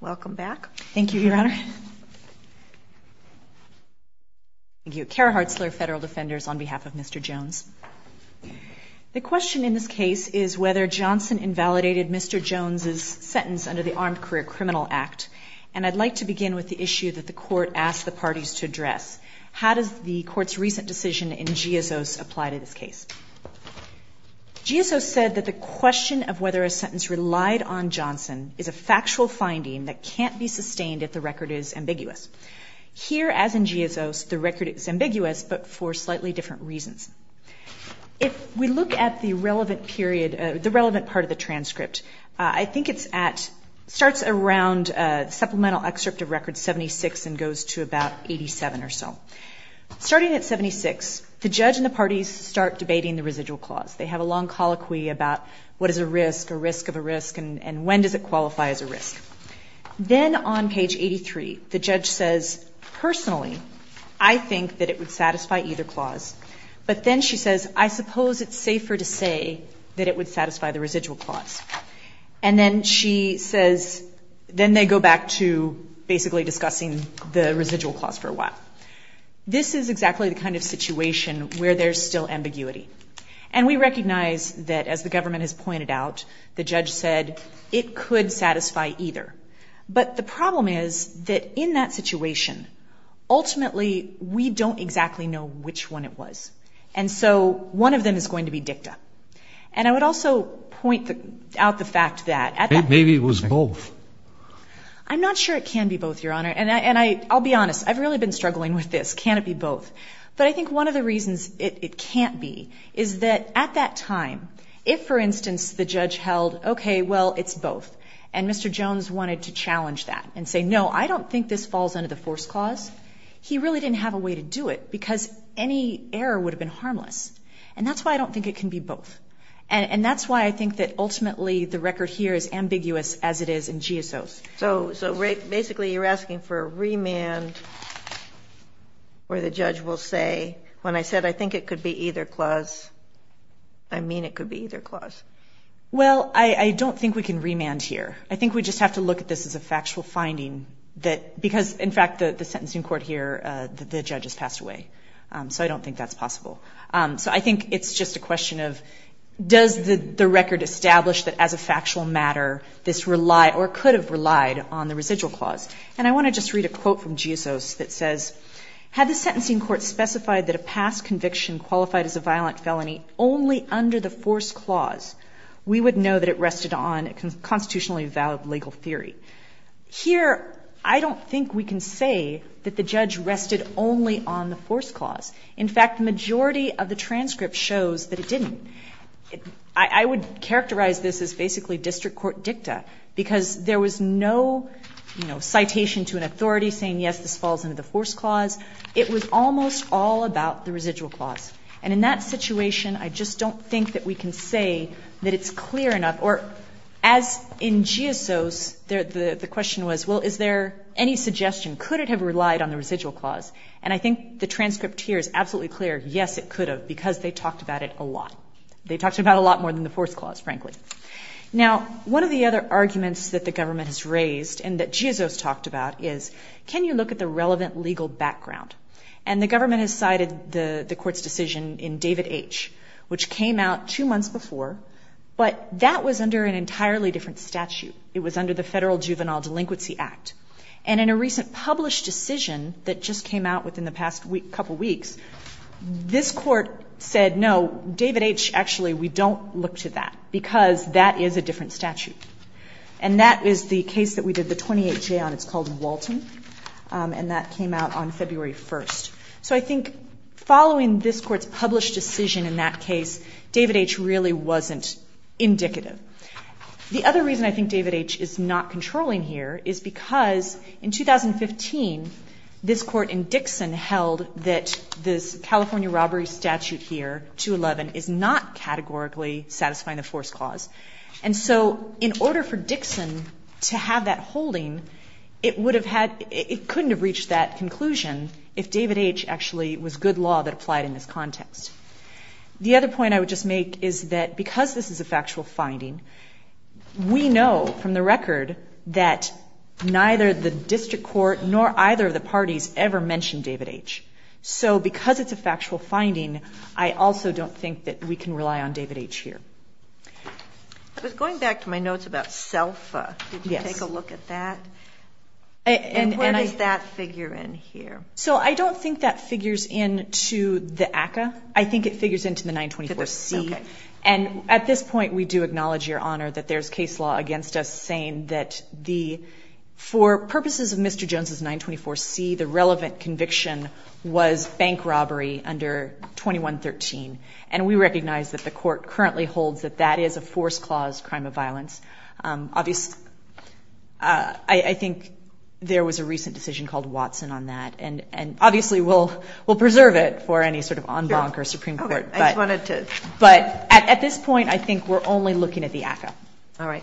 Welcome back. Thank you, Your Honor. Thank you. Kara Hartzler, Federal Defenders, on behalf of Mr. Jones. The question in this case is whether Johnson invalidated Mr. Jones's sentence under the Armed Career Criminal Act, and I'd like to begin with the issue that the Court asked the parties to address. How does the Court's recent decision in Giosos apply to this case? Giosos said that the question of whether a sentence relied on Johnson is a factual finding that can't be sustained if the record is ambiguous. Here, as in Giosos, the record is ambiguous, but for slightly different reasons. If we look at the relevant period, the relevant part of the transcript, I think it's at, starts around supplemental excerpt of Record 76 and goes to about 87 or so. Starting at 76, the judge and the parties start debating the residual clause. They have a long colloquy about what is a risk, a risk of a risk, and when does it qualify as a risk. Then on page 83, the judge says, personally, I think that it would satisfy either clause. But then she says, I suppose it's safer to say that it would satisfy the residual clause. And then she says, then they go back to basically discussing the residual clause for a while. This is exactly the kind of situation where there's still ambiguity. And we recognize that, as the government has pointed out, the judge said it could satisfy either. But the problem is that in that situation, ultimately, we don't exactly know which one it was. And so one of them is going to be dicta. And I would also point out the fact that at that point... Can it be both? But I think one of the reasons it can't be is that at that time, if, for instance, the judge held, okay, well, it's both, and Mr. Jones wanted to challenge that and say, no, I don't think this falls under the force clause, he really didn't have a way to do it, because any error would have been harmless. And that's why I don't think it can be both. And that's why I think that ultimately the record here is ambiguous as it is in GSOs. So basically you're asking for a remand where the judge will say, when I said I think it could be either clause, I mean it could be either clause. Well, I don't think we can remand here. I think we just have to look at this as a factual finding, because, in fact, the sentencing court here, the judge has passed away. So I don't think that's possible. So I think it's just a question of does the record establish that as a factual matter this relied or could have relied on the residual clause. And I want to just read a quote from GSOs that says, had the sentencing court specified that a past conviction qualified as a violent felony only under the force clause, we would know that it rested on a constitutionally valid legal theory. Here, I don't think we can say that the judge rested only on the force clause. In fact, the majority of the transcript shows that it didn't. I would characterize this as basically district court dicta, because there was no, you know, citation to an authority saying, yes, this falls under the force clause. It was almost all about the residual clause. And in that situation, I just don't think that we can say that it's clear enough, or as in GSOs, the question was, well, is there any suggestion? Could it have relied on the residual clause? And I think the transcript here is absolutely clear, yes, it could have, because they talked about it a lot. They talked about it a lot more than the force clause, frankly. Now, one of the other arguments that the government has raised and that GSOs talked about is, can you look at the relevant legal background? And the government has cited the court's decision in David H., which came out two months before, but that was under an entirely different statute. It was under the Federal Juvenile Delinquency Act. And in a recent published decision that just came out within the past couple weeks, this Court said, no, David H., actually, we don't look to that, because that is a different statute. And that is the case that we did the 28-J on. It's called Walton, and that came out on February 1st. So I think following this Court's published decision in that case, David H. really wasn't indicative. The other reason I think David H. is not controlling here is because in 2015, this Court in Dixon held that this California robbery statute here, 211, is not categorically satisfying the force clause. And so in order for Dixon to have that holding, it would have had ‑‑ it couldn't have reached that conclusion if David H. actually was good law that applied in this context. The other point I would just make is that because this is a factual finding, we know from the record that neither the district court nor either of the parties ever mentioned David H. So because it's a factual finding, I also don't think that we can rely on David H. here. I was going back to my notes about SELFA. Did you take a look at that? And where does that figure in here? So I don't think that figures into the ACCA. I think it figures into the 924C. And at this point, we do acknowledge, Your Honor, that there's case law against us saying that for purposes of Mr. Jones' 924C, the relevant conviction was bank robbery under 2113. And we recognize that the Court currently holds that that is a force clause crime of violence. Obviously, I think there was a recent decision called Watson on that. And obviously, we'll preserve it for any sort of en banc or Supreme Court. But at this point, I think we're only looking at the ACCA.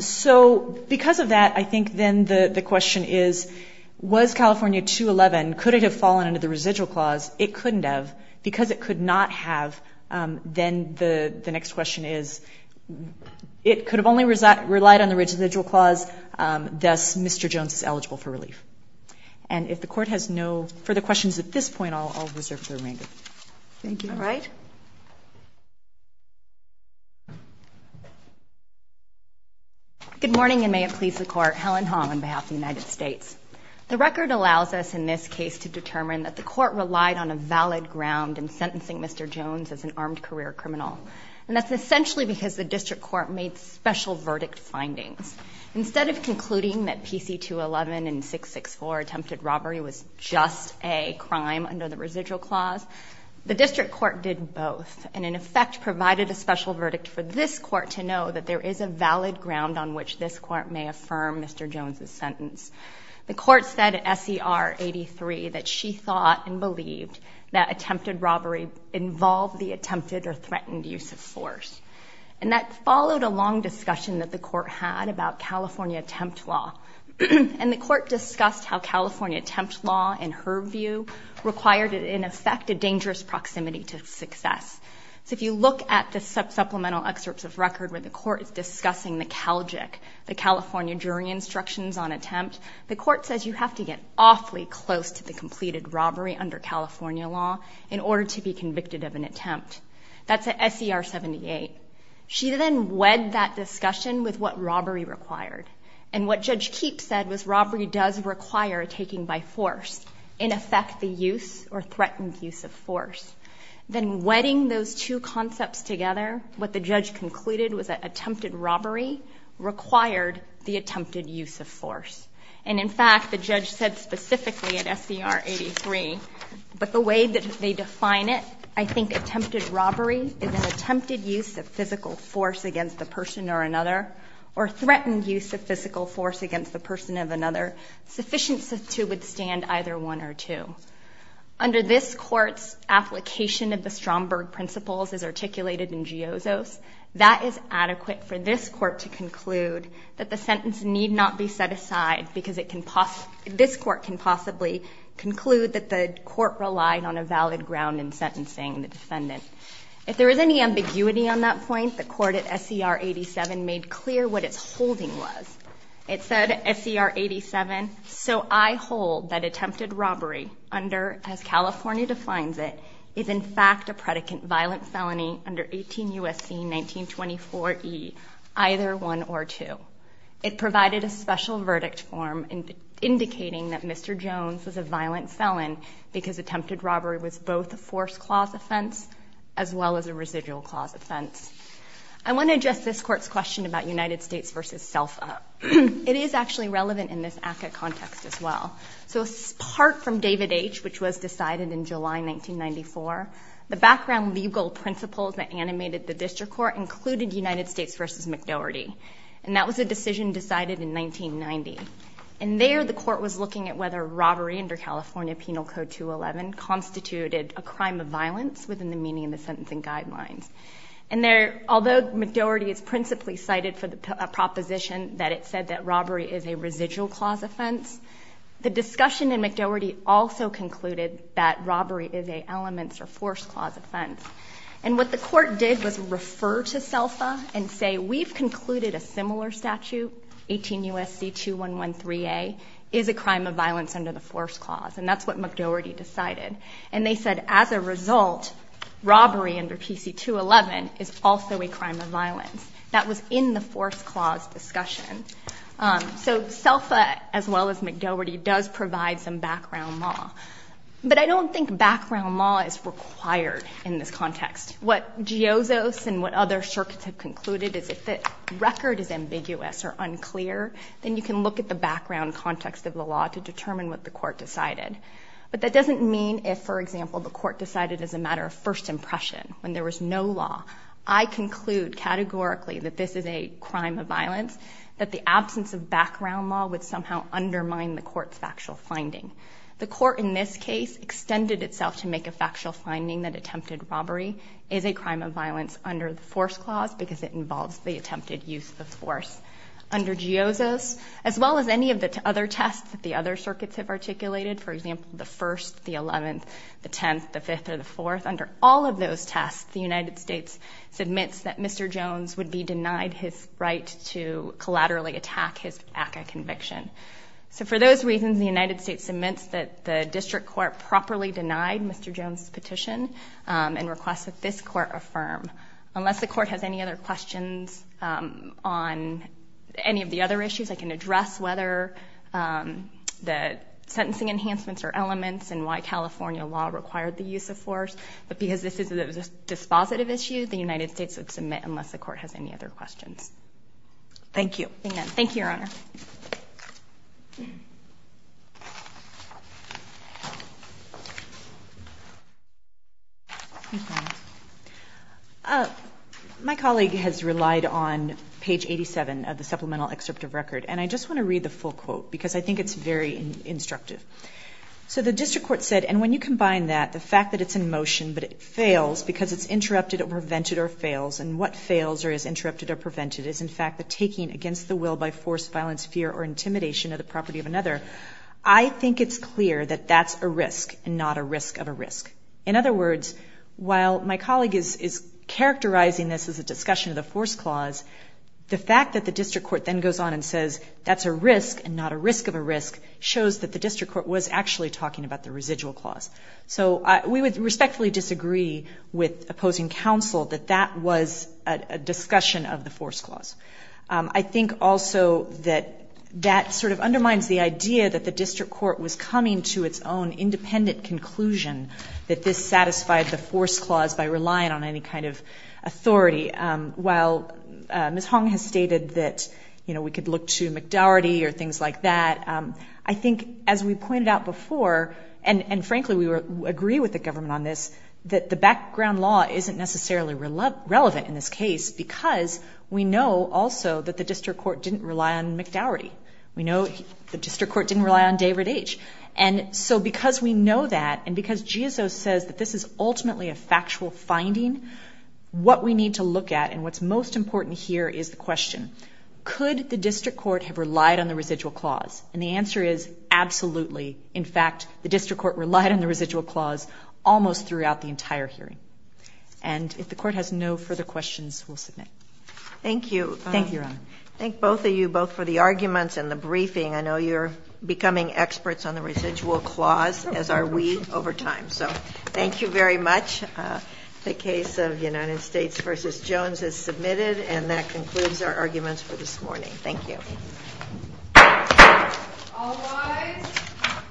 So because of that, I think then the question is, was California 211, could it have fallen under the residual clause? It couldn't have. Because it could not have, then the next question is, it could have only relied on the residual clause, thus Mr. Jones is eligible for relief. And if the Court has no further questions at this point, I'll reserve the remainder. Thank you. Good morning, and may it please the Court. Helen Hong on behalf of the United States. The record allows us in this case to determine that the Court relied on a valid ground in sentencing Mr. Jones as an armed career criminal. And that's essentially because the District Court made special verdict findings. Instead of concluding that PC-211 and 664 attempted robbery was just a crime under the residual clause, the District Court did both, and in effect provided a special verdict for this Court to know that there is a valid ground on which this Court may affirm Mr. Jones' sentence. The Court said at SER 83 that she thought and believed that attempted robbery involved the attempted or threatened use of force. And that followed a long discussion that the Court had about California attempt law. And the Court discussed how California attempt law, in her view, required in effect a dangerous proximity to success. So if you look at the supplemental excerpts of record where the Court is discussing the CALJIC, the California jury instructions on attempt, the Court says you have to get awfully close to the completed robbery under California law in order to be convicted of an attempt. That's at SER 78. She then wed that discussion with what robbery required. And what Judge Keepe said was robbery does require a taking by force, in effect a use or threatened use of force. Then wedding those two concepts together, what the judge concluded was that attempted robbery required the attempted use of force. And in fact, the judge said specifically at SER 83, but the way that they define it, I think attempted robbery is an attempted use of physical force against the person or another, or threatened use of physical force against the person of another sufficient to withstand either one or two. Under this Court's application of the Stromberg principles as articulated in Geozo's, that is adequate for this Court to conclude that the sentence need not be set aside because it can possibly, this Court can possibly conclude that the Court relied on a valid ground in sentencing the defendant. If there is any ambiguity on that point, the Court at SER 87 made clear what its holding was. It said at SER 87, so I hold that attempted robbery under, as California defines it, is in fact a predicate violent felony under 18 U.S.C. 1924 E, either one or two. It provided a special verdict form indicating that Mr. Jones was a violent felon because attempted robbery was both a forced-clause offense as well as a residual-clause offense. I want to address this Court's question about United States v. SELFA. It is actually relevant in this ACCA context as well. So part from David H., which was decided in July 1994, the background legal principles that animated the District Court included United States v. McDoherty. And that was a decision decided in 1997, constituted a crime of violence within the meaning of the sentencing guidelines. And there, although McDoherty is principally cited for the proposition that it said that robbery is a residual-clause offense, the discussion in McDoherty also concluded that robbery is an elements or forced-clause offense. And what the Court did was refer to SELFA and say, we've concluded a similar statute, 18 U.S.C. 2113A, is a crime of violence under the forced-clause. And that's what McDoherty decided. And they said, as a result, robbery under PC-211 is also a crime of violence. That was in the forced-clause discussion. So SELFA, as well as McDoherty, does provide some background law. But I don't think background law is required in this context. What GIOZOS and what other circuits have concluded is if the record is ambiguous or unclear, then you can look at the background context of the law to determine what the Court decided. But that doesn't mean if, for example, the Court decided as a matter of first impression, when there was no law, I conclude categorically that this is a crime of violence, that the absence of background law would somehow undermine the Court's factual finding. The Court, in this case, extended itself to make a factual finding that attempted robbery is a crime of violence under the forced-clause because it involves the attempted use of force. Under GIOZOS, as well as any of the other tests that the other circuits have articulated, for example, the 1st, the 11th, the 10th, the 5th, or the 4th, under all of those tests, the United States submits that Mr. Jones would be denied his right to collaterally attack his family. The District Court properly denied Mr. Jones' petition and requests that this Court affirm. Unless the Court has any other questions on any of the other issues, I can address whether the sentencing enhancements are elements and why California law required the use of force. But because this is a dispositive issue, the United States would submit unless the Court has any other questions. Thank you. My colleague has relied on page 87 of the supplemental excerpt of record, and I just want to read the full quote because I think it's very instructive. So the District Court said, and when you combine that, the fact that it's in motion but it fails because it's interrupted or prevented or fails, and what fails or is interrupted or prevented is in fact the taking against the will by forced violence, fear, or intimidation of the property of another. I think it's clear that that's a risk and not a risk of a risk. In other words, while my colleague is characterizing this as a discussion of the force clause, the fact that the District Court then goes on and says that's a risk and not a risk of a risk shows that the District Court was actually talking about the residual clause. So we would respectfully disagree with opposing counsel that that was a discussion of the force clause. I think also that that sort of undermines the idea that the District Court was coming to its own independent conclusion that this satisfied the force clause by relying on any kind of authority. While Ms. Hong has stated that we could look to and frankly we would agree with the government on this, that the background law isn't necessarily relevant in this case because we know also that the District Court didn't rely on McDowery. We know the District Court didn't rely on David H. And so because we know that and because GSO says that this is ultimately a factual finding, what we need to look at and what's most important here is the question, could the District Court have relied on the residual clause? And the answer is absolutely. In fact, the District Court relied on the residual clause almost throughout the entire hearing. And if the Court has no further questions, we'll submit. Thank you. Thank you, Your Honor. Thank both of you both for the arguments and the briefing. I know you're becoming experts on the residual clause as are we over time. So thank you very much. The case of United States v. Jones is submitted and that concludes our arguments for this morning. Thank you.